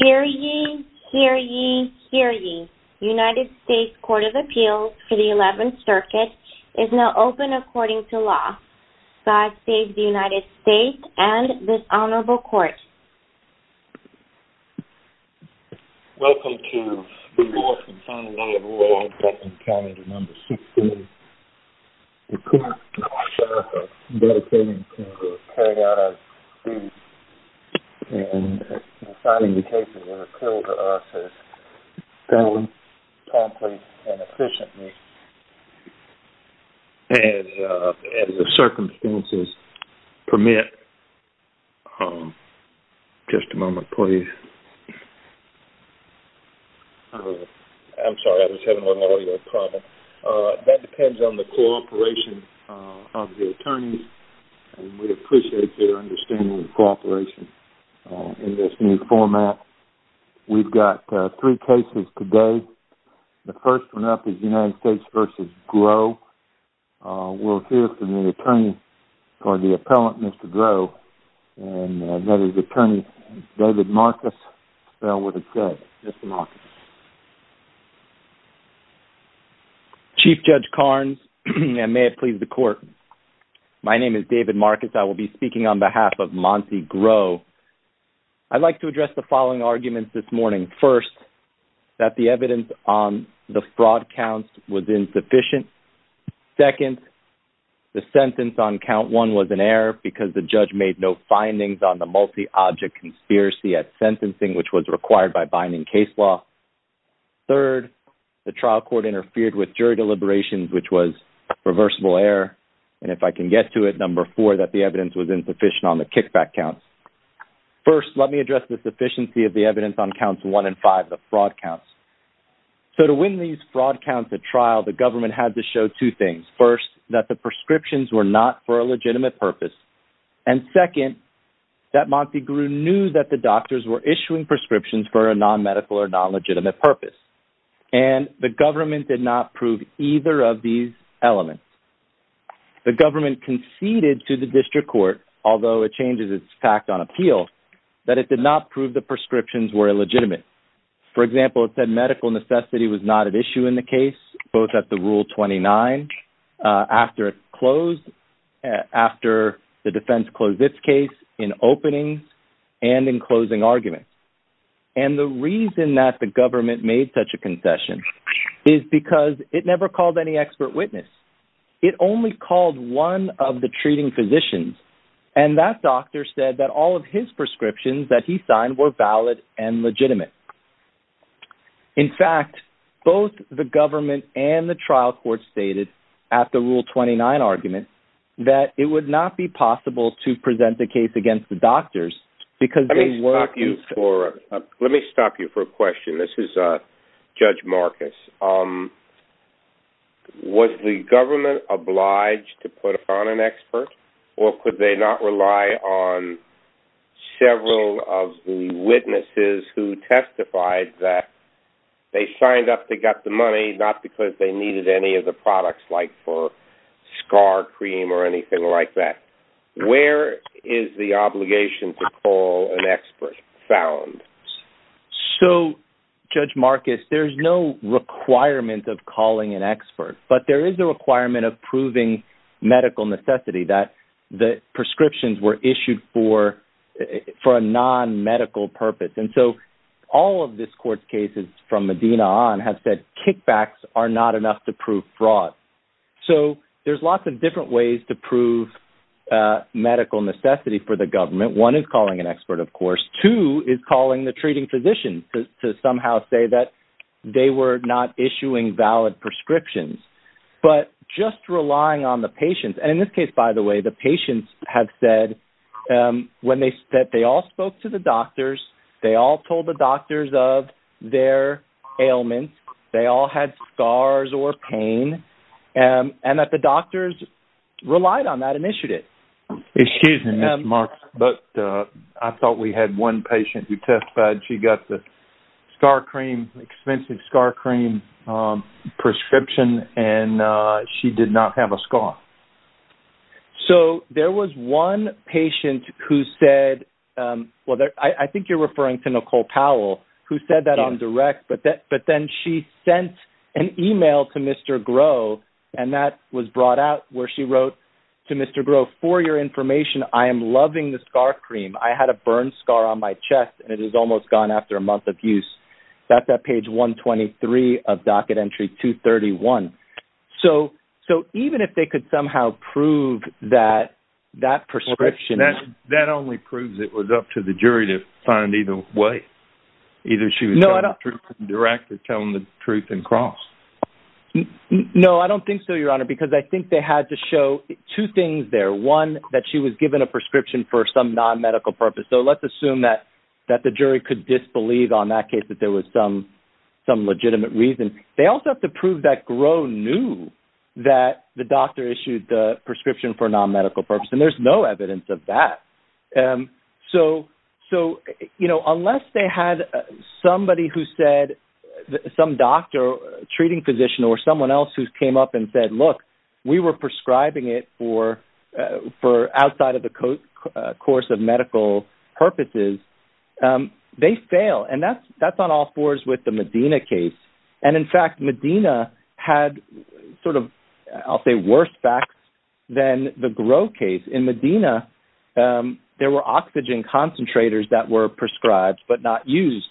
Hear ye, hear ye, hear ye. United States Court of Appeals for the 11th Circuit is now open according to law. God save the United States and this honorable court. Welcome to the fourth and final day of the law in Franklin County, the number 16th. The court and our sheriff have dedicated themselves to carrying out our duties and assigning the cases that appeal to us as fairly, promptly, and efficiently. As the circumstances permit, that depends on the cooperation of the attorneys. We appreciate their understanding and cooperation in this new format. We've got three cases today. The first one up is United States v. Grow. We'll hear from the attorney, or the appellant, Mr. Grow, and let his attorney, David Marcus, spell what it says. Chief Judge Carnes, and may it please the court, my name is David Marcus. I will be speaking on behalf of Monty Grow. I'd like to address the following arguments this morning. First, that the evidence on the fraud counts was insufficient. Second, the sentence on count one was an error because the judge made no findings on the multi-object conspiracy at sentencing, which was required by binding case law. Third, the trial court interfered with jury deliberations, which was reversible error. And if I can get to it, number four, that the evidence was insufficient on the kickback counts. First, let me address the sufficiency of the evidence on counts one and five, the fraud counts. So to win these fraud counts at trial, the government had to show two things. First, that the prescriptions were not for a legitimate purpose. And second, that Monty Grow knew that the doctors were issuing prescriptions for a non-medical or non-legitimate purpose. And the government did not prove either of these elements. The government conceded to the district court, although it changes its fact on appeal, that it did not prove the prescriptions were illegitimate. For example, it said medical necessity was not an issue in the case, both at the Rule 29, after it closed, after the defense closed its case, in openings, and in closing arguments. And the reason that the government made such a concession is because it never called any expert witness. It only called one of the treating physicians. And that doctor said that all of his prescriptions that he signed were valid and legitimate. In fact, both the government and the trial court stated, at the Rule 29 argument, that it would not be possible to present the case against the doctors because they weren't... Let me stop you for a question. This is Judge Marcus. Was the government obliged to put upon an expert, or could they not rely on several of the witnesses who testified that they signed up, they got the money, not because they needed any of the products, like for scar cream or anything like that? Where is the obligation to call an expert found? So, Judge Marcus, there's no requirement of calling an expert, but there is a requirement of proving medical necessity, that the prescriptions were issued for a non-medical purpose. And so, all of this court's cases from Medina on have said kickbacks are not enough to prove fraud. So, there's lots of different ways to prove medical necessity for the government. One is calling an expert, of course. Two is calling the treating physician to somehow say that they were not issuing valid prescriptions, but just relying on the patients. And in this case, by the way, the patients have said that they all spoke to the doctors, they all told the doctors of their ailments, they all had scars or pain, and that the doctors relied on that initiative. Excuse me, Judge Marcus, but I thought we had one patient who testified she got the scar cream, expensive scar cream prescription, and she did not have a scar. So, there was one patient who said, well, I think you're referring to Nicole Powell, who said that on direct, but then she sent an email to Mr. Groh, and that was brought out where she wrote to Mr. Groh, for your information, I am loving the scar cream. I had a burn scar on my chest, and it is almost gone after a month of use. That's at page 123 of docket entry 231. So, even if they could somehow prove that that prescription... That only proves it was up to the jury to find either way. Either she was telling the truth in direct or telling the truth in cross. No, I don't think so, Your Honor, because I think they had to show two things there. One, that she was given a prescription for some non-medical purpose. So, let's assume that the jury could disbelieve on that case that there was some legitimate reason. They also have to prove that Groh knew that the doctor issued the prescription for non-medical purpose, and there's no evidence of that. So, unless they had somebody who said, some doctor, treating physician, or someone else who came up and said, look, we were prescribing it for outside of the course of medical purposes, they fail. And that's on all fours with the Medina case. And, in fact, Medina had sort of, I'll say, worse facts than the Groh case. In Medina, there were oxygen concentrators that were prescribed, but not used.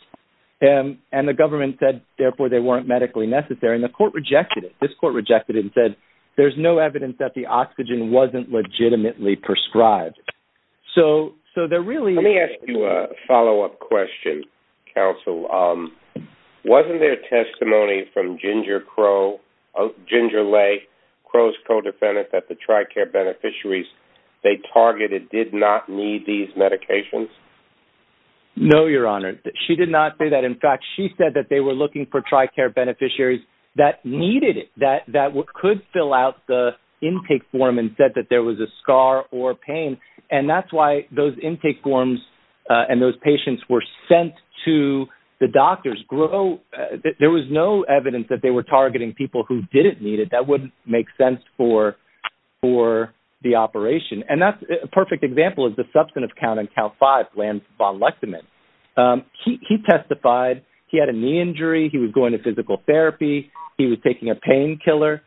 And the government said, therefore, they weren't medically necessary, and the court rejected it. This court rejected it and said, there's no evidence that the oxygen wasn't legitimately prescribed. Let me ask you a follow-up question, counsel. Wasn't there testimony from Ginger Lay, Groh's co-defendant, that the TRICARE beneficiaries they targeted did not need these medications? No, Your Honor. She did not say that. In fact, she said that they were looking for TRICARE beneficiaries that needed it, that could fill out the intake form and said that there was a scar or pain. And that's why those intake forms and those patients were sent to the doctors. Groh, there was no evidence that they were targeting people who didn't need it. That wouldn't make sense for the operation. And that's a perfect example is the substantive count in Cal 5, Lance von Lechtemann. He testified he had a knee injury. He was going to physical therapy. He was taking a painkiller.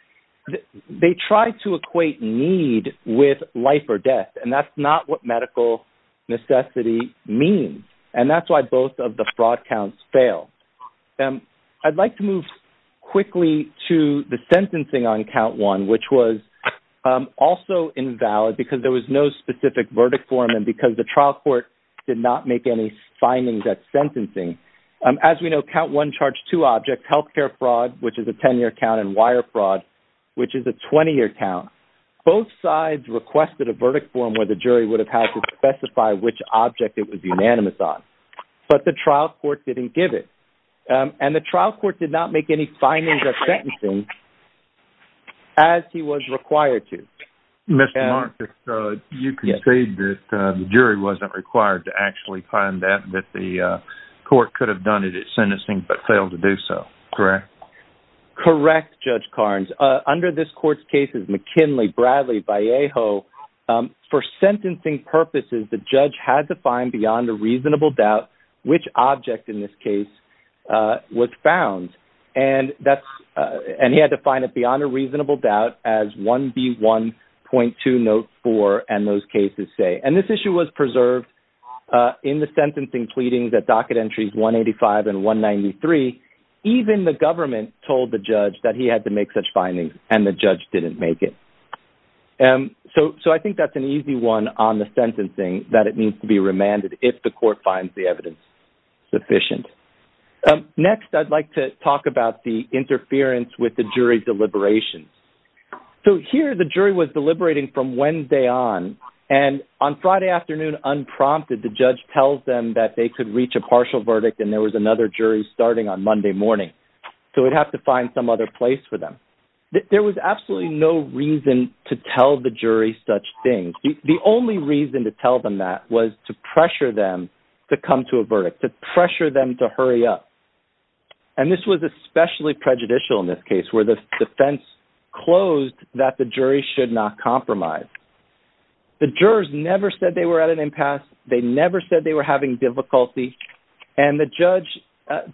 They tried to equate need with life or death, and that's not what medical necessity means. And that's why both of the fraud counts failed. I'd like to move quickly to the sentencing on Count 1, which was also invalid because there was no specific verdict for him and because the trial court did not make any findings at sentencing. As we know, Count 1 charged two objects, healthcare fraud, which is a 10-year count, and wire fraud, which is a 20-year count. Both sides requested a verdict form where the jury would have had to specify which object it was unanimous on, but the trial court didn't give it. And the trial court did not make any findings at sentencing as he was required to. Mr. Marcus, you concede that the jury wasn't required to actually find that, that the court could have done it at sentencing but failed to do so, correct? Correct, Judge Carnes. Under this court's cases, McKinley, Bradley, Vallejo, for sentencing purposes, the judge had to find beyond a reasonable doubt which object in this case was found. And he had to find it beyond a reasonable doubt as 1B1.204 and those cases say. And this issue was preserved in the sentencing pleadings at docket entries 185 and 193. Even the government told the judge that he had to make such findings and the judge didn't make it. So I think that's an easy one on the sentencing that it needs to be remanded if the court finds the evidence sufficient. Next, I'd like to talk about the interference with the jury deliberations. So here the jury was deliberating from Wednesday on and on Friday afternoon, unprompted, the judge tells them that they could reach a partial verdict and there was another jury starting on Monday morning. So we'd have to find some other place for them. There was absolutely no reason to tell the jury such things. The only reason to tell them that was to pressure them to come to a verdict, to pressure them to hurry up. And this was especially prejudicial in this case where the defense closed that the jury should not compromise. The jurors never said they were at an impasse. They never said they were having difficulty. And the judge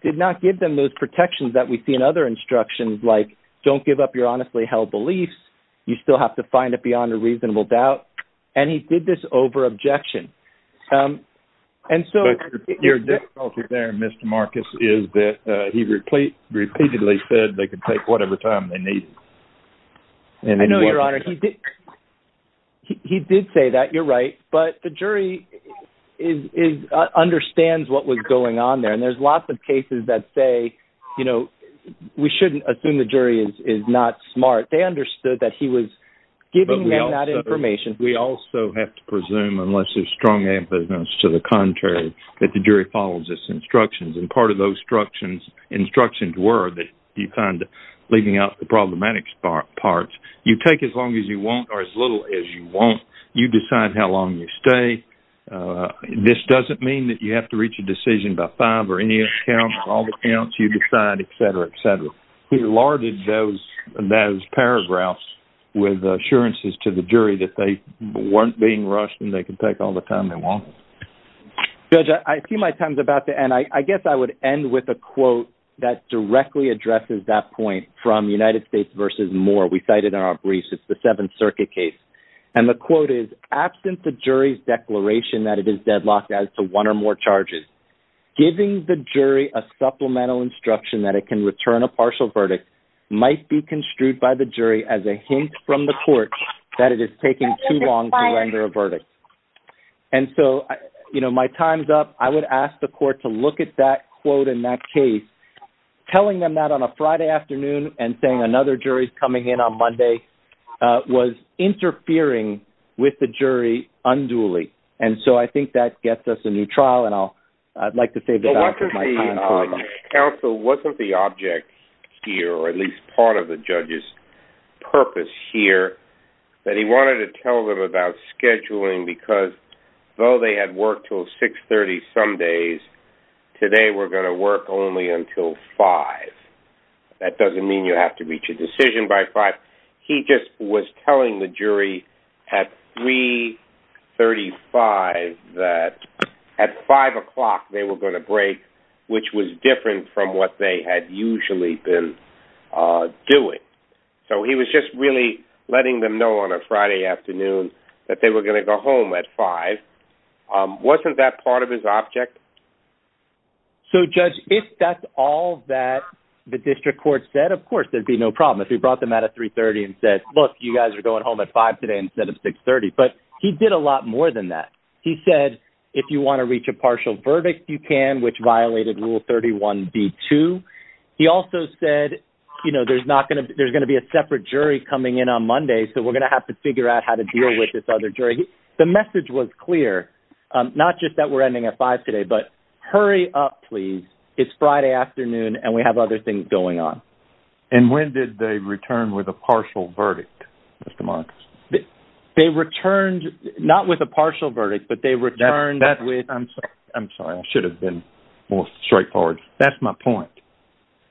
did not give them those protections that we see in other instructions like don't give up your honestly held beliefs. You still have to find it beyond a reasonable doubt. And he did this over objection. And so your difficulty there, Mr. Marcus, is that he repeatedly said they could take whatever time they need. I know, Your Honor, he did. He did say that. You're right. But the jury is understands what was going on there. And there's lots of cases that say, you know, we shouldn't assume the jury is not smart. They understood that he was giving them that information. We also have to presume, unless there's strong evidence to the contrary, that the jury follows this instructions. And part of those instructions were that you find leaving out the problematic parts. You take as long as you want or as little as you want. You decide how long you stay. This doesn't mean that you have to reach a decision by five or any account or all the accounts. You decide, et cetera, et cetera. He lauded those paragraphs with assurances to the jury that they weren't being rushed and they could take all the time they wanted. Judge, I see my time's about to end. And I guess I would end with a quote that directly addresses that point from United States v. Moore. We cited in our briefs, it's the Seventh Circuit case. And the quote is, absent the jury's declaration that it is deadlocked as to one or more charges, giving the jury a supplemental instruction that it can return a partial verdict might be construed by the jury as a hint from the court that it is taking too long to render a verdict. And so my time's up. I would ask the court to look at that quote in that case. Telling them that on a Friday afternoon and saying another jury's coming in on Monday was interfering with the jury unduly. And so I think that gets us a new trial. And I'd like to save that answer for my time. Counsel, wasn't the object here, or at least part of the judge's purpose here, that he wanted to tell them about scheduling? Because though they had worked till 6.30 some days, today we're going to work only until 5.00. That doesn't mean you have to reach a decision by 5.00. He just was telling the jury at 3.35 that at 5.00 they were going to break, which was different from what they had usually been doing. So he was just really letting them know on a Friday afternoon that they were going to go home at 5.00. Wasn't that part of his object? So, Judge, if that's all that the district court said, of course, there'd be no problem. If he brought them out at 3.30 and said, look, you guys are going home at 5.00 today instead of 6.30. But he did a lot more than that. He said, if you want to reach a partial verdict, you can, which violated Rule 31b-2. He also said, you know, there's going to be a separate jury coming in on Monday, so we're going to have to figure out how to deal with this other jury. The message was clear, not just that we're ending at 5.00 today, but hurry up, please. It's Friday afternoon and we have other things going on. And when did they return with a partial verdict, Mr. Marcus? They returned not with a partial verdict, but they returned with... I'm sorry. I'm sorry. I should have been more straightforward. That's my point.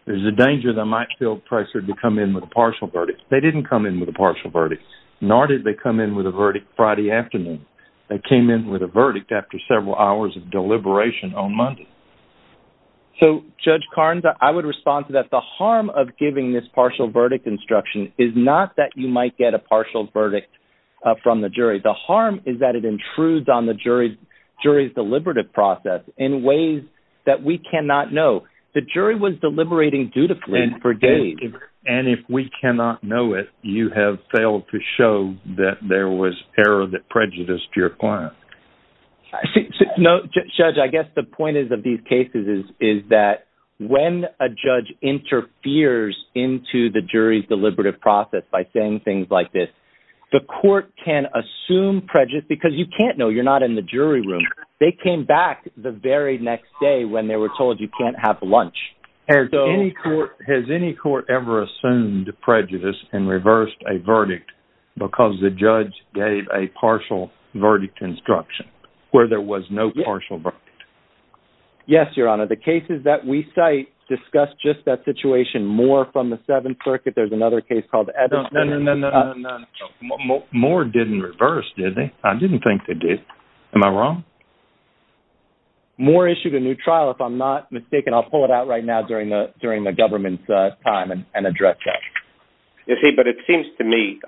There's a danger they might feel pressured to come in with a partial verdict. They didn't come in with a partial verdict, nor did they come in with a verdict Friday afternoon. They came in with a verdict after several hours of deliberation on Monday. So, Judge Carnes, I would respond to that. The harm of giving this partial verdict instruction is not that you might get a partial verdict from the jury. The harm is that it intrudes on the jury's deliberative process in ways that we cannot know. The jury was deliberating dutifully for days. And if we cannot know it, you have failed to show that there was error that prejudiced your client. Judge, I guess the point of these cases is that when a judge interferes into the jury's deliberative process by saying things like this, the court can assume prejudice because you can't know. You're not in the jury room. They came back the very next day when they were told you can't have lunch. Has any court ever assumed prejudice and reversed a verdict because the judge gave a partial verdict instruction where there was no partial verdict? Yes, Your Honor. The cases that we cite discuss just that situation. Moore from the Seventh Circuit. There's another case called Edison. No, no, no. Moore didn't reverse, did he? I didn't think they did. Am I wrong? Moore issued a new trial, if I'm not mistaken. I'll pull it out right now during the government's time and address that. You see, but it seems to me,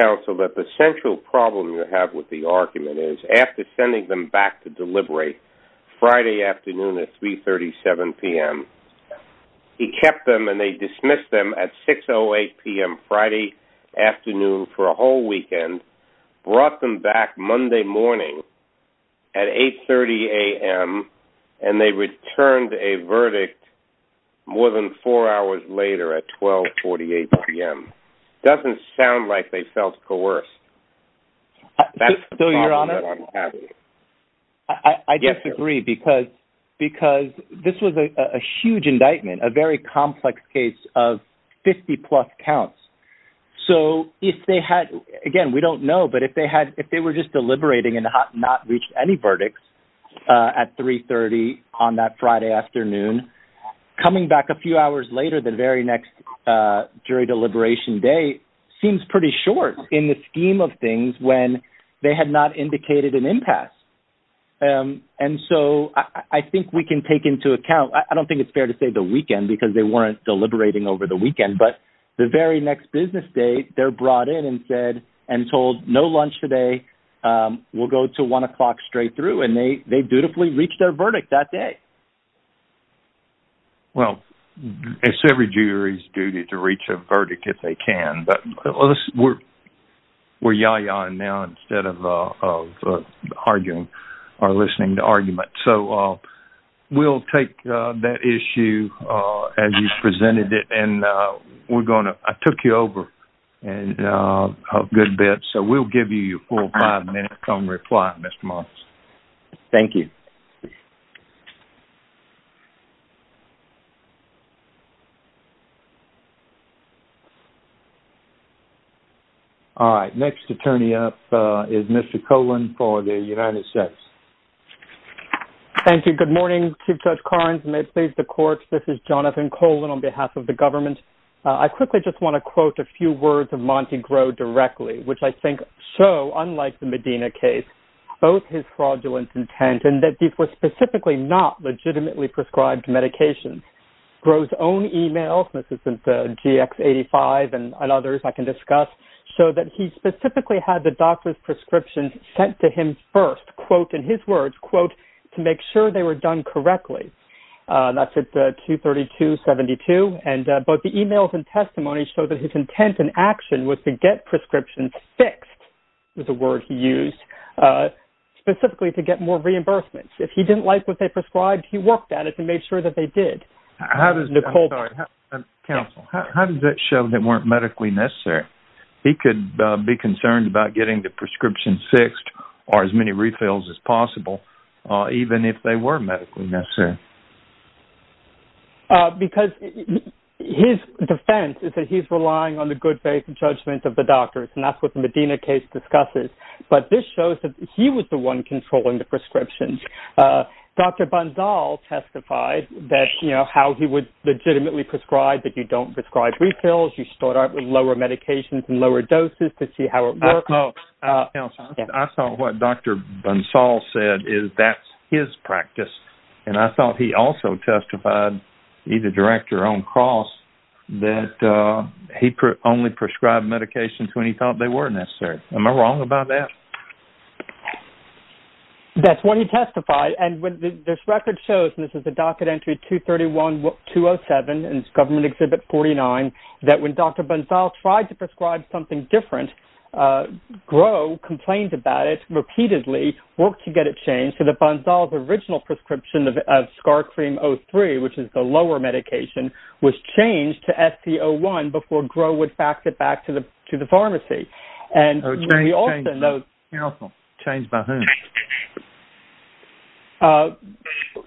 counsel, that the central problem you have with the argument is after sending them back to deliberate Friday afternoon at 3.37 p.m., he kept them and they dismissed them at 6.08 p.m. Friday afternoon for a whole weekend, brought them back Monday morning at 8.30 a.m., and they returned a verdict more than four hours later at 12.48 p.m. It doesn't sound like they felt coerced. That's the problem that I'm having. I disagree because this was a huge indictment, a very complex case of 50-plus counts. So if they had, again, we don't know, but if they were just deliberating and not reached any verdicts at 3.30 on that Friday afternoon, coming back a few hours later the very next jury deliberation day seems pretty short in the scheme of things when they had not indicated an impasse. And so I think we can take into account, I don't think it's fair to say the weekend because they weren't deliberating over the weekend, but the very next business day they're brought in and told no lunch today, we'll go to one o'clock straight through, and they dutifully reached their verdict that day. Well, it's every jury's duty to reach a verdict if they can, but we're yaya-ing now instead of arguing or listening to argument. So we'll take that issue as you presented it, and I took you over a good bit, so we'll give you your full five-minute-long reply, Mr. Moss. Thank you. Thank you. All right. Next attorney up is Mr. Colan for the United States. Thank you. Good morning, Chief Judge Collins. May it please the courts, this is Jonathan Colan on behalf of the government. I quickly just want to quote a few words of Monty Grove directly, which I think show, unlike the Medina case, both his fraudulent intent and that these were specifically not legitimately prescribed medications. Grove's own e-mails, this is in the GX85 and others I can discuss, show that he specifically had the doctor's prescriptions sent to him first, quote, in his words, quote, to make sure they were done correctly. That's at 232-72, and both the e-mails and testimony show that his intent and action was to get prescriptions fixed is the word he used. Specifically to get more reimbursements. If he didn't like what they prescribed, he worked at it to make sure that they did. I'm sorry. Counsel, how does that show they weren't medically necessary? He could be concerned about getting the prescription fixed or as many refills as possible, even if they were medically necessary. Because his defense is that he's relying on the good faith and judgment of the doctors, and that's what the Medina case discusses. But this shows that he was the one controlling the prescriptions. Dr. Bansal testified that, you know, how he would legitimately prescribe that you don't prescribe refills, you start out with lower medications and lower doses to see how it works. Counsel, I thought what Dr. Bansal said is that's his practice. And I thought he also testified, either direct or on cross, that he only prescribed medications when he thought they were necessary. Am I wrong about that? That's when he testified. And this record shows, and this is the docket entry 231207 in Government Exhibit 49, that when Dr. Bansal tried to prescribe something different, Groh complained about it repeatedly, worked to get it changed, so that Bansal's original prescription of scar cream 03, which is the lower medication, was changed to SC01 before Groh would fax it back to the pharmacy. Oh, changed, changed. Counsel. Changed by whom?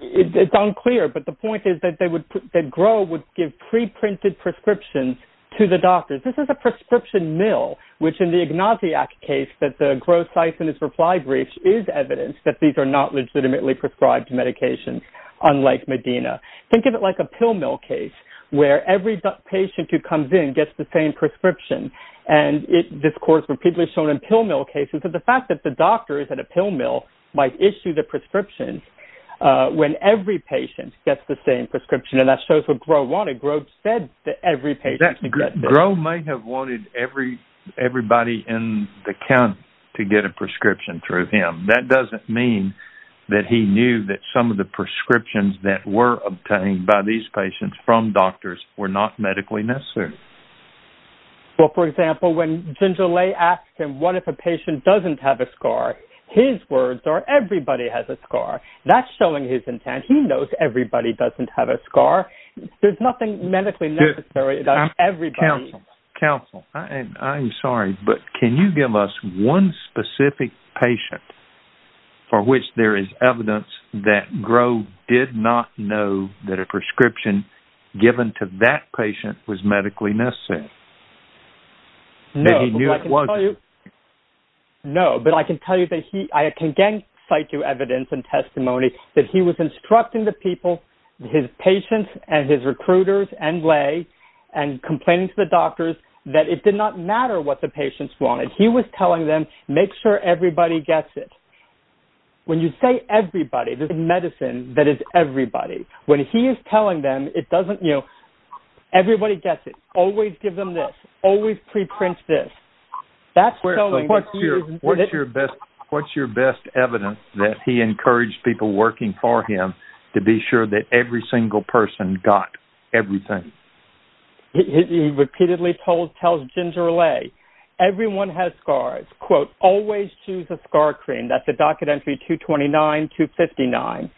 It's unclear, but the point is that Groh would give pre-printed prescriptions to the doctors. This is a prescription mill, which in the Ignaziak case that the Groh-Sisonis reply brief is evidence that these are not legitimately prescribed medications, unlike Medina. Think of it like a pill mill case where every patient who comes in gets the same prescription and this is of course repeatedly shown in pill mill cases, but the fact that the doctors at a pill mill might issue the prescriptions when every patient gets the same prescription, and that shows what Groh wanted. Groh said that every patient could get this. Groh may have wanted everybody in the county to get a prescription through him. That doesn't mean that he knew that some of the prescriptions that were obtained by these patients from doctors were not medically necessary. Well, for example, when Ginger Lay asked him what if a patient doesn't have a scar, his words are everybody has a scar. That's showing his intent. He knows everybody doesn't have a scar. There's nothing medically necessary about everybody. Counsel, counsel, I'm sorry, but can you give us one specific patient for which there is evidence that Groh did not know that a prescription given to that patient was medically necessary? No, but I can tell you, no, but I can tell you that he, I can again cite you evidence and testimony that he was instructing the people, his patients and his recruiters and Lay, and complaining to the doctors that it did not matter what the patients wanted. He was telling them make sure everybody gets it. When you say everybody, there's medicine that is everybody. When he is telling them it doesn't, you know, everybody gets it. Always give them this. Always preprint this. What's your best evidence that he encouraged people working for him to be sure that every single person got everything? He repeatedly tells Ginger Lay everyone has scars. Quote, always choose a scar cream. That's a docket entry 229, 259.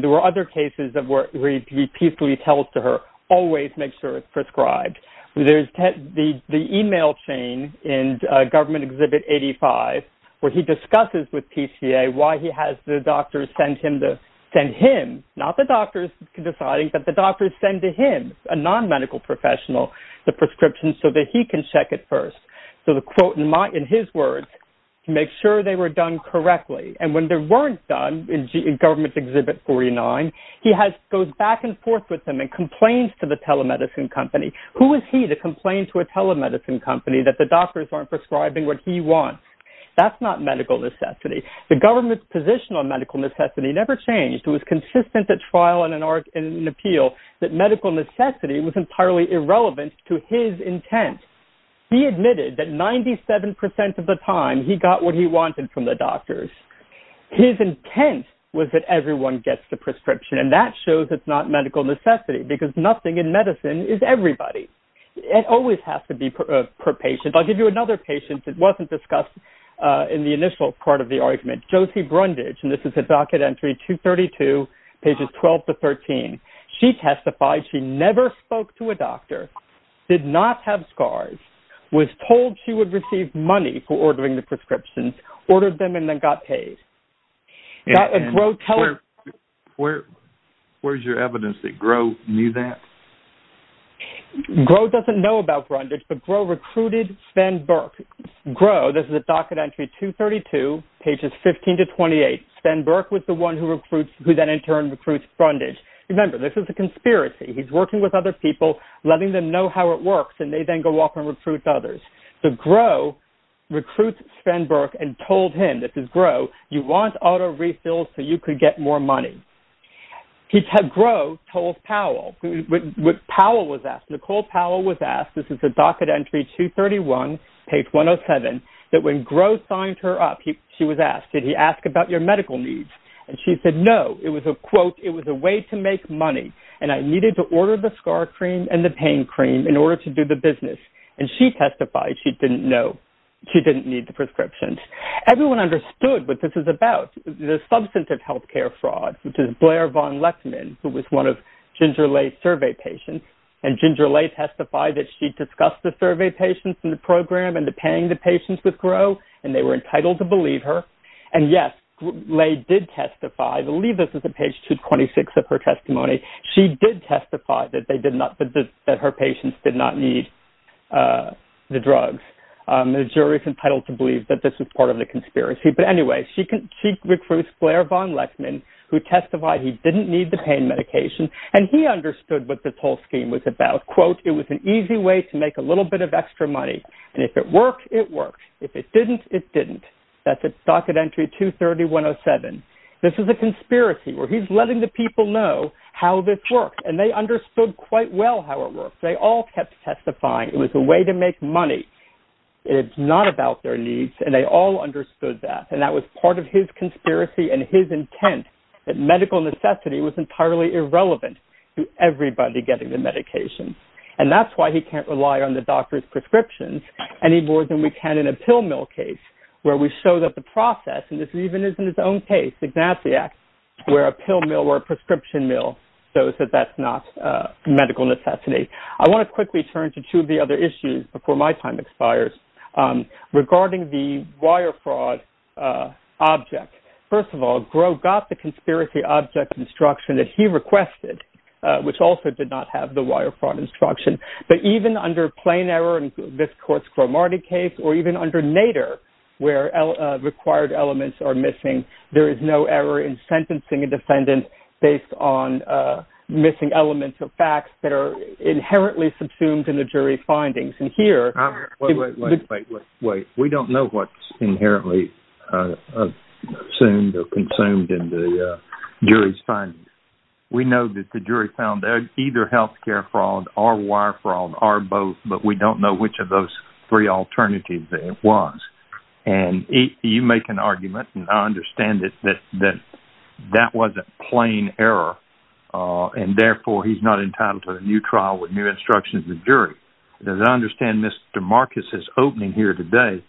There were other cases where he repeatedly tells to her, always make sure it's prescribed. There's the email chain in Government Exhibit 85 where he discusses with PCA why he has the doctors send him, not the doctors deciding, but the doctors send to him, a non-medical professional, the prescription so that he can check it first. So the quote in his words, make sure they were done correctly. And when they weren't done in Government Exhibit 49, he goes back and forth with them and complains to the telemedicine company. Who is he to complain to a telemedicine company that the doctors aren't prescribing what he wants? That's not medical necessity. The government's position on medical necessity never changed. It was consistent at trial and in appeal that medical necessity was entirely irrelevant to his intent. He admitted that 97% of the time he got what he wanted from the doctors. His intent was that everyone gets the prescription. And that shows it's not medical necessity because nothing in medicine is everybody. It always has to be per patient. I'll give you another patient that wasn't discussed in the initial part of the argument. Josie Brundage, and this is a docket entry 232, pages 12 to 13. She testified she never spoke to a doctor, did not have scars, was told she would receive money for ordering the prescriptions, ordered them and then got paid. Where's your evidence that Groh knew that? Groh doesn't know about Brundage, but Groh recruited Sven Berg. Groh, this is a docket entry 232, pages 15 to 28. Sven Berg was the one who then in turn recruits Brundage. Remember, this is a conspiracy. He's working with other people, letting them know how it works, and they then go off and recruit others. So Groh recruits Sven Berg and told him, this is Groh, you want auto refills so you could get more money. Groh told Powell, what Powell was asked, Nicole Powell was asked, this is a docket entry 231, page 107, that when Groh signed her up, she was asked, did he ask about your medical needs? And she said no. It was a quote, it was a way to make money, and I needed to order the scar cream and the pain cream in order to do the business. She didn't know. She didn't need the prescriptions. Everyone understood what this is about, the substantive healthcare fraud, which is Blair von Lettman, who was one of Ginger Lay's survey patients, and Ginger Lay testified that she discussed the survey patients in the program and the paying the patients with Groh, and they were entitled to believe her. And yes, Lay did testify, I believe this is page 226 of her testimony, she did testify that her patients did not need the drugs. The jury's entitled to believe that this was part of the conspiracy. But anyway, she recruits Blair von Lettman, who testified he didn't need the pain medication, and he understood what this whole scheme was about. Quote, it was an easy way to make a little bit of extra money, and if it worked, it worked. If it didn't, it didn't. That's a docket entry 231, 107. This is a conspiracy, where he's letting the people know how this worked, and they understood quite well how it worked. And he kept testifying, it was a way to make money. It's not about their needs, and they all understood that. And that was part of his conspiracy and his intent, that medical necessity was entirely irrelevant to everybody getting the medication. And that's why he can't rely on the doctor's prescriptions any more than we can in a pill mill case, where we show that the process, and this even is in his own case, Ignatius, where a pill mill or a prescription mill shows that that's not medical necessity. So let me quickly turn to two of the other issues before my time expires, regarding the wire fraud object. First of all, Gros got the conspiracy object instruction that he requested, which also did not have the wire fraud instruction. But even under plain error, in this court's Gros-Martin case, or even under Nader, where required elements are missing, there is no error in sentencing a defendant based on missing elements or facts that are inherently subsumed in the jury's findings. Wait, wait, wait. We don't know what's inherently assumed or consumed in the jury's findings. We know that the jury found either health care fraud or wire fraud, or both, but we don't know which of those three alternatives it was. And you make an argument, and I understand it, that that wasn't plain error, and therefore he's not entitled to a new trial with new instructions of the jury. As I understand Mr. Marcus's opening here today,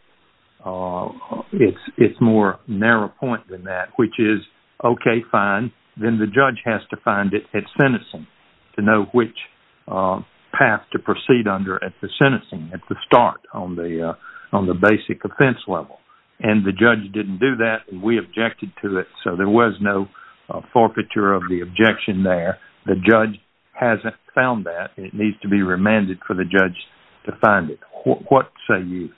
it's more narrow point than that, which is, okay, fine, then the judge has to find it at sentencing to know which path to proceed under at the sentencing, at the start, on the basic offense level. And the judge didn't do that, and we objected to it, so there was no forfeiture of the objection there. The judge hasn't found that, and it needs to be remanded for the judge to find it. What say you?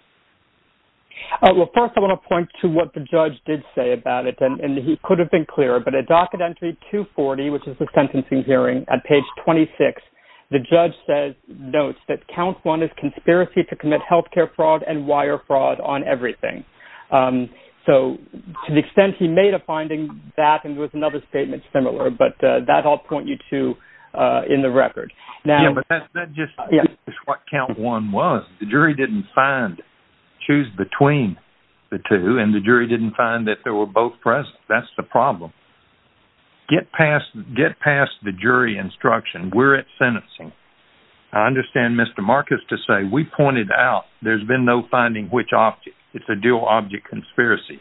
Well, first I want to point to what the judge did say about it, and he could have been clearer, but at docket entry 240, which is the sentencing hearing, at page 26, the judge notes that count one is conspiracy to commit health care fraud and wire fraud on everything. So to the extent he made a finding, that and there was another statement similar, but that I'll point you to in the record. Yeah, but that's just what count one was. The jury didn't find, choose between the two, and the jury didn't find that they were both present. That's the problem. Get past the jury instruction. We're at sentencing. I understand Mr. Marcus to say, we pointed out there's been no finding which object. It's a dual object conspiracy,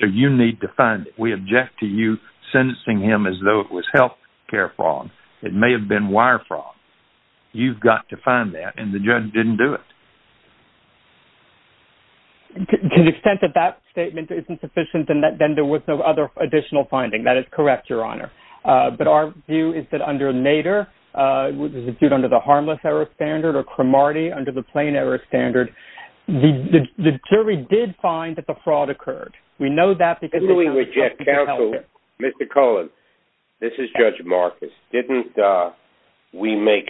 so you need to find it. We object to you sentencing him because it was health care fraud. It may have been wire fraud. You've got to find that, and the judge didn't do it. To the extent that that statement isn't sufficient, and that then there was no other additional finding. That is correct, Your Honor. But our view is that under Nader, which is a dude under the harmless error standard, or Cromartie under the plain error standard, the jury did find that the fraud occurred. We know that because we reject counsel. Mr. Cohen, this is Judge Marcus. Didn't we make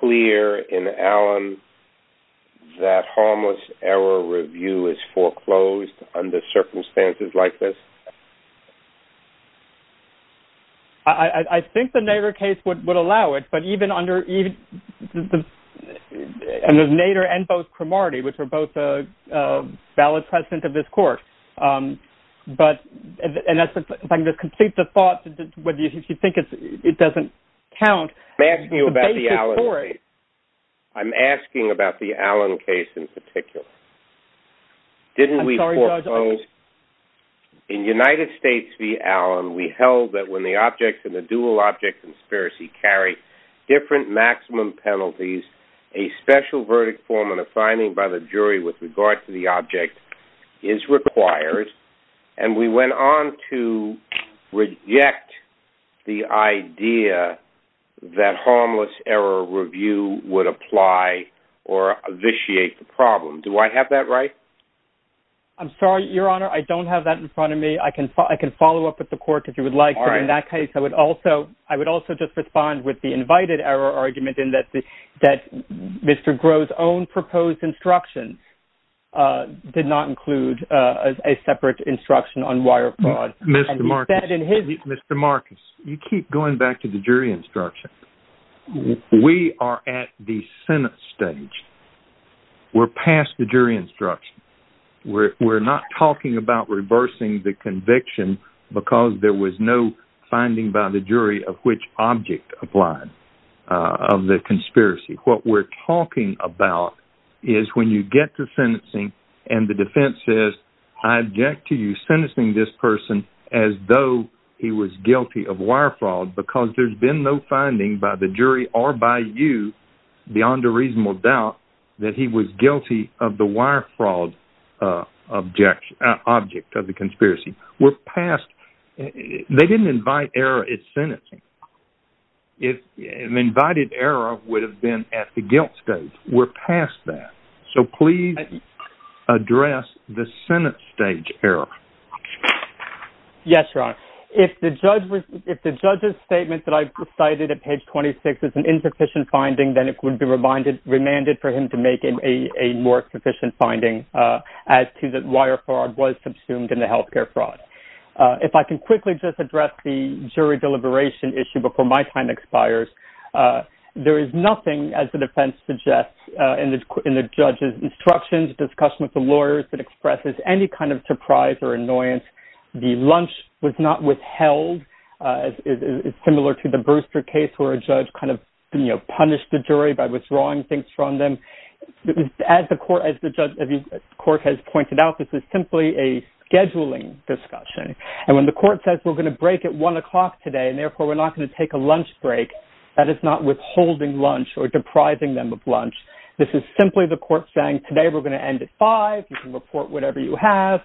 clear in Allen that harmless error review is foreclosed under circumstances like this? I think the Nader case would allow it, but even under Nader and both Cromartie, which are both valid precedent of this court, and if I can just complete the thought, if you think it doesn't count. I'm asking you about the Allen case. I'm asking about the Allen case in particular. Didn't we foreclose... I'm sorry, Judge. In United States v. Allen, we held that when the object and the dual object conspiracy carry different maximum penalties, a special verdict form and a finding by the jury with regard to the object was not required, and we went on to reject the idea that harmless error review would apply or vitiate the problem. Do I have that right? I'm sorry, Your Honor. I don't have that in front of me. I can follow up with the court if you would like, but in that case, I would also just respond with the invited error argument in that Mr. Groh's own proposed instructions did not include a separate instruction on wire fraud. Mr. Marcus, Mr. Marcus, you keep going back to the jury instruction. We are at the Senate stage. We're past the jury instruction. We're not talking about reversing the conviction because there was no finding by the jury of which object applied of the conspiracy. What we're talking about is when you get to sentencing and the defense says, I object to you sentencing this person as though he was guilty of wire fraud because there's been no finding by the jury or by you beyond a reasonable doubt that he was guilty of the wire fraud object of the conspiracy. We're past. They didn't invite error at sentencing. An invited error would have been at the guilt stage. We're past that. Please address the Senate stage error. Yes, Your Honor. If the judge's statement that I cited at page 26 is an insufficient finding, then it would be remanded for him to make a more sufficient finding as to that wire fraud was consumed in the healthcare fraud. If I can quickly just address the jury deliberation issue before my time expires, there is nothing, as the defense suggests, in the judge's instructions, discussion with the lawyers that expresses any kind of surprise or annoyance. The lunch was not withheld. It's similar to the Brewster case where a judge kind of punished the jury by withdrawing things from them. As the court has pointed out, this is simply a scheduling discussion. And when the court says we're going to break at 1 o'clock today and therefore we're not going to take a lunch break, that is not withholding lunch or depriving them of lunch. This is simply the court saying, today we're going to end at 5. You can report whatever you have.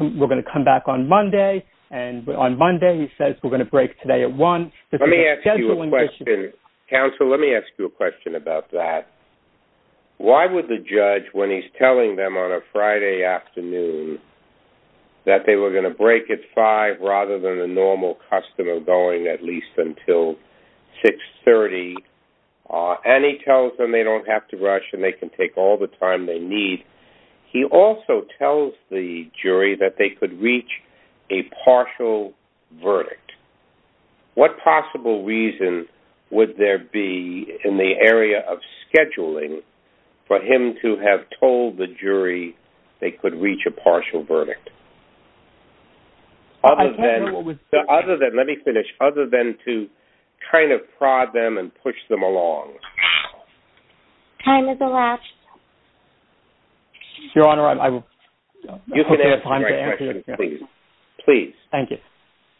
We're going to come back on Monday. And on Monday he says we're going to break today at 1. Let me ask you a question. Counsel, let me ask you a question about that. Why would the judge, when he's telling them on a Friday afternoon that they were going to break at 5 rather than the normal custom of going at least until 6.30, and he tells them they don't have to rush and they can take all the time they need, he also tells the jury that they could reach a partial verdict. What possible reason would there be in the area of scheduling for him to have told the jury they could reach a partial verdict? Other than... Let me finish. Other than to kind of prod them and push them along. Time is elapsed. Your Honor, I'm... You think that's a great question. Please. Thank you.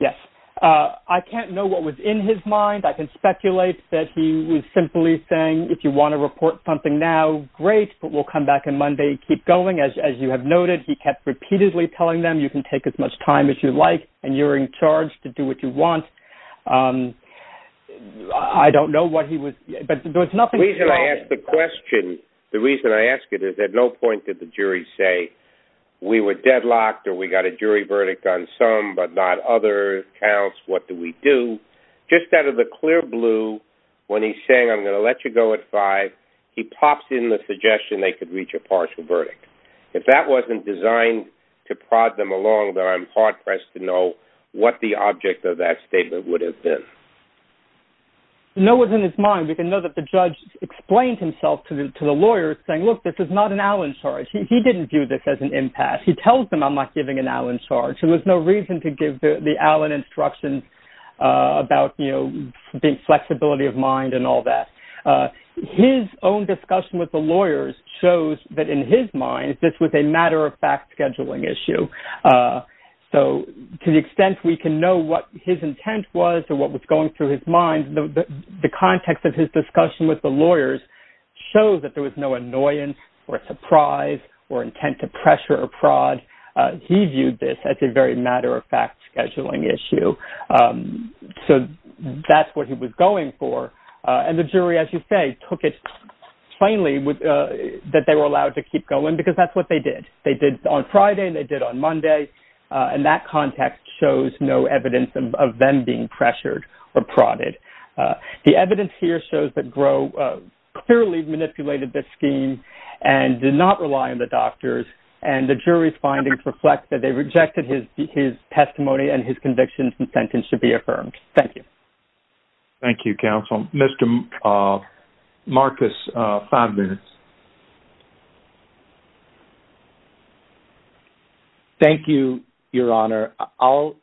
Yes. I can't know what was in his mind. I can speculate that he was simply saying if you want to report something now, great, but we'll come back on Monday, keep going. As you have noted, he kept repeatedly telling them you can take as much time as you like and you're in charge to do what you want. He was... The reason I ask the question, the reason I ask it is at no point did the jury say we were deadlocked or we got a jury verdict on some but not other counts. What do we do? Just out of the clear blue, when he's saying I'm going to let you go at five, he pops in the suggestion they could reach a partial verdict. If that wasn't designed to prod them along, then I'm hard-pressed to know what the object of that statement would have been. No one's in his mind. We can know that the judge explained himself to the lawyers saying, look, this is not an Allen charge. He didn't view this as an impasse. He tells them I'm not giving an Allen charge. So there's no reason to give the Allen instructions about, you know, being flexibility of mind and all that. His own discussion with the lawyers shows that in his mind, this was a matter of fact scheduling issue. So to the extent we can know what his intent was or what was going through his mind, the context of his discussion with the lawyers shows that there was no annoyance or surprise or intent to pressure or prod. He viewed this as a very matter of fact scheduling issue. So that's what he was going for. And the jury, as you say, took it plainly that they were allowed to keep going because that's what they did. They were allowed to go on Monday. And that context shows no evidence of them being pressured or prodded. The evidence here shows that Gros clearly manipulated this scheme and did not rely on the doctors. And the jury's findings reflect that they rejected his testimony and his conviction and sentence should be affirmed. Thank you. Thank you, counsel. Mr. Marcus, five minutes. Thank you, Your Honor. I'll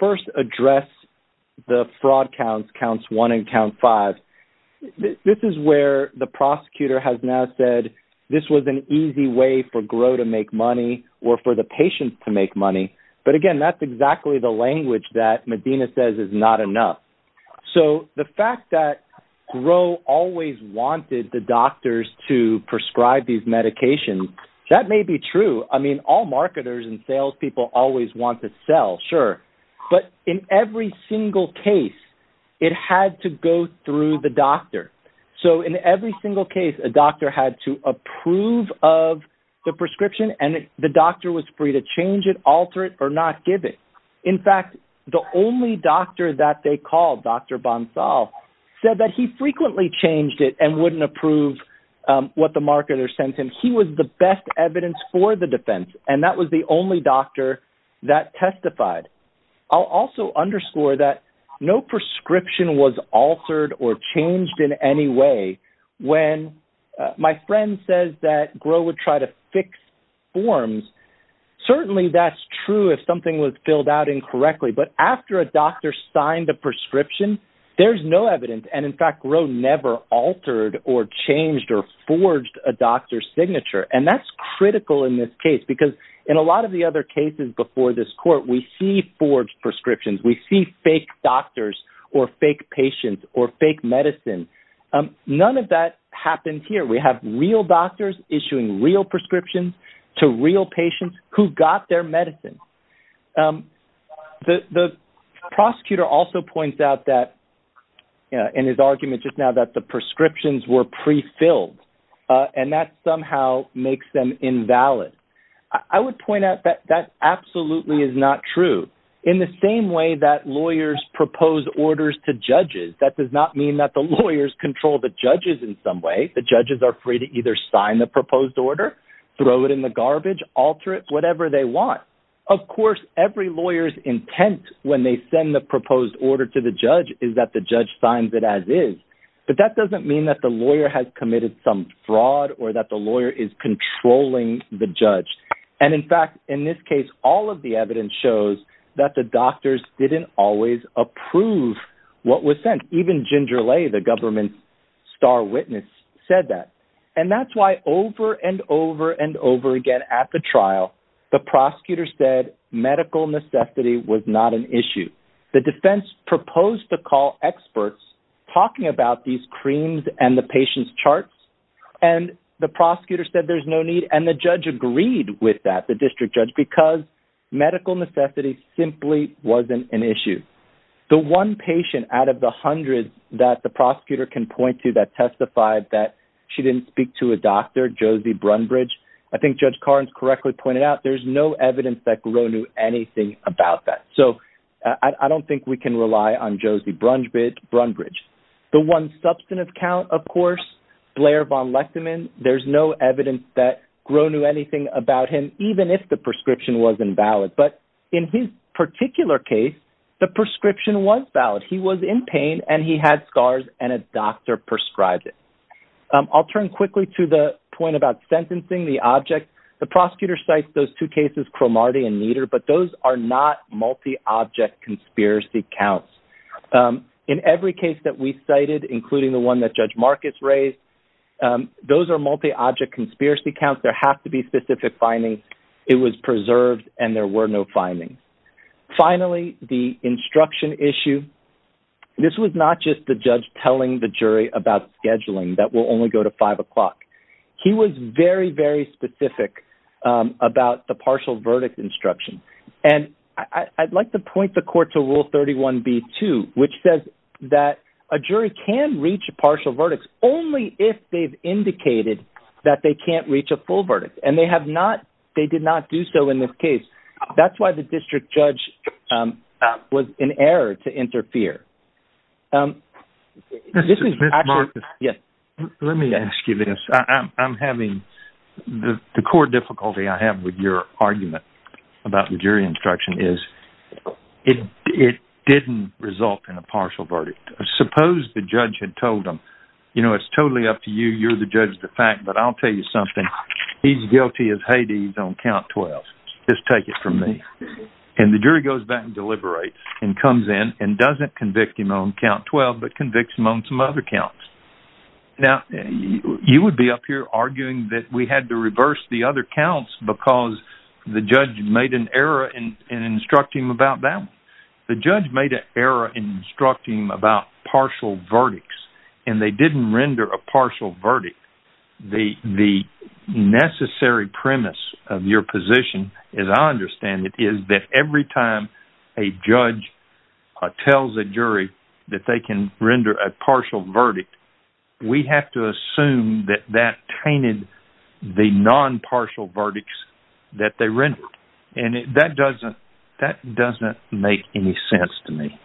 first address the fraud counts, counts one and count five. This is where the prosecutor has now said this was an easy way for Gros to make money or for the patients to make money. But again, that's exactly the language that Medina says is not enough. So the fact that Gros always wanted the doctors to prescribe these medications, that may be true. I mean, all marketers and salespeople always want to sell, sure. But in every single case, it had to go through the doctor. So in every single case, a doctor had to approve of the prescription and the doctor was free to change it, alter it or not give it. In fact, the only doctor that they called, Dr. Bonsal, said that he frequently changed it and wouldn't approve what the marketer sent him. And he was the best evidence for the defense. And that was the only doctor that testified. I'll also underscore that no prescription was altered or changed in any way when my friend says that Gros would try to fix forms. Certainly that's true if something was filled out incorrectly. But after a doctor signed the prescription, there's no evidence. And in fact, Gros never altered or changed or forged a doctor's signature. And that's critical in this case because in a lot of the other cases before this court, we see forged prescriptions. We see fake doctors or fake patients or fake medicine. None of that happens here. We have real doctors issuing real prescriptions to real patients who got their medicine. The prosecutor also points out that in his argument just now that the prescriptions were pre-filled. And that somehow makes them invalid. I would point out that that absolutely is not true. In the same way that lawyers propose orders to judges, that does not mean that the lawyers control the judges in some way. The judges are free to either sign the proposed order, throw it in the garbage, alter it, whatever they want. Of course, every lawyer's intent when they send the proposed order to the judge is that the judge signs it as is. But that doesn't mean that the lawyer has committed some fraud or that the lawyer is controlling the judge. And in fact, in this case, all of the evidence shows that the doctors didn't always approve what was sent. Even Ginger Lay, the government's star witness, said that. And that's why over and over and over again at the trial, the prosecutor said medical necessity was supposed to call experts talking about these creams and the patient's charts. And the prosecutor said there's no need. And the judge agreed with that, the district judge, because medical necessity simply wasn't an issue. The one patient out of the hundreds that the prosecutor can point to that testified that she didn't speak to a doctor, Josie Brunbridge, I think Judge Carnes correctly pointed out, there's no evidence that Gros knew anything about that. I'm Josie Brunbridge. The one substantive count, of course, Blair von Lechtemann. There's no evidence that Gros knew anything about him, even if the prescription wasn't valid. But in his particular case, the prescription was valid. He was in pain and he had scars and a doctor prescribed it. I'll turn quickly to the point about sentencing the object. The prosecutor cites those two cases, Cromartie and Nieder, but those are not multi-object conspiracy counts. In every case that we cited, including the one that Judge Marcus raised, those are multi-object conspiracy counts. There have to be specific findings. It was preserved and there were no findings. Finally, the instruction issue. This was not just the judge telling the jury about scheduling that will only go to five o'clock. He was very, very specific about the partial verdict instruction. And I'd like to point the court to Rule 31b-2, which says that a jury can reach a partial verdict only if they've indicated that they can't reach a full verdict. And they have not. They did not do so in this case. That's why the district judge was in error to interfere. This is actually... Mr. Marcus, let me ask you this. I'm having... The core difficulty I have with your argument about the jury instruction is it didn't result in a partial verdict. Suppose the judge had told them, you know, it's totally up to you. You're the judge of the fact, but I'll tell you something. He's guilty as Hades on count 12. Just take it from me. And the jury goes back and deliberates and comes in and doesn't convict him on count 12 but convicts him on some other counts. Now, you would be up here arguing that we had to reverse the other counts because the judge made an error in instructing him about that one. The judge made an error in instructing him about partial verdicts, and they didn't render a partial verdict. The necessary premise of your position, as I understand it, is that every time a judge tells a jury that they can render a partial verdict, we have to assume that that tainted the non-partial verdicts and that doesn't make any sense to me.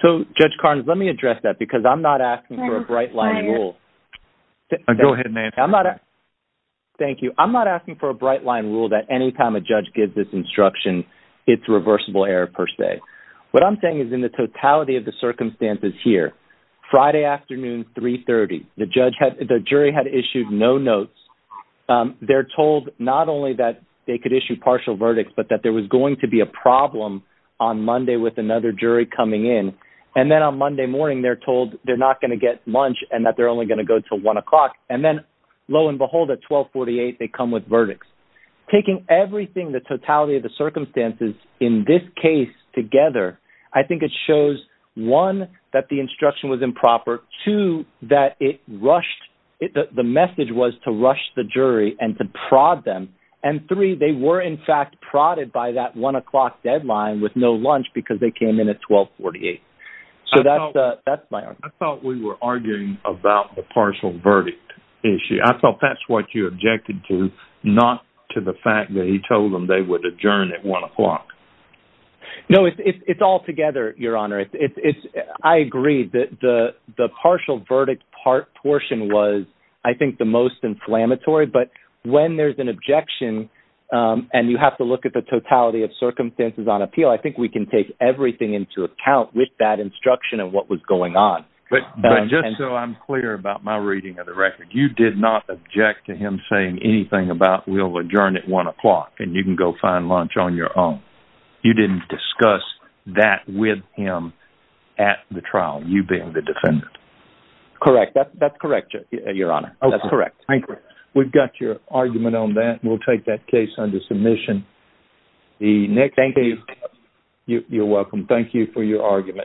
So, Judge Carnes, let me address that because I'm not asking for a bright line rule. Go ahead, Nancy. Thank you. I'm not asking for a bright line rule that any time a judge gives this instruction, it's reversible error per se. What I'm saying is in the totality of the circumstances here, Friday afternoon, 3.30, the jury had issued no notes. They're told not only that they could issue partial verdicts, but that there was going to be a problem on Monday with another jury coming in. And then on Monday morning, they're told they're not going to get lunch and that they're only going to go until 1 o'clock. And then, lo and behold, at 12.48, they come with verdicts. Taking everything, the totality of the circumstances in this case together, I think it shows, one, that the instruction was improper, two, that it rushed, the message was to rush the jury and three, they were, in fact, prodded by that 1 o'clock deadline with no lunch because they came in at 12.48. So that's my argument. I thought we were arguing about the partial verdict issue. I thought that's what you objected to, not to the fact that he told them they would adjourn at 1 o'clock. No, it's all together, Your Honor. I agree that the partial verdict portion was, I think, the most inflammatory. But when there's an objection, and you have to look at the totality of circumstances on appeal, I think we can take everything into account with that instruction of what was going on. But just so I'm clear about my reading of the record, you did not object to him saying anything about we'll adjourn at 1 o'clock and you can go find lunch on your own. You didn't discuss that with him at the trial, you being the defendant. Correct. That's correct, Your Honor. That's correct. We've got your argument on that. It stays under submission. Thank you. You're welcome. Thank you for your argument.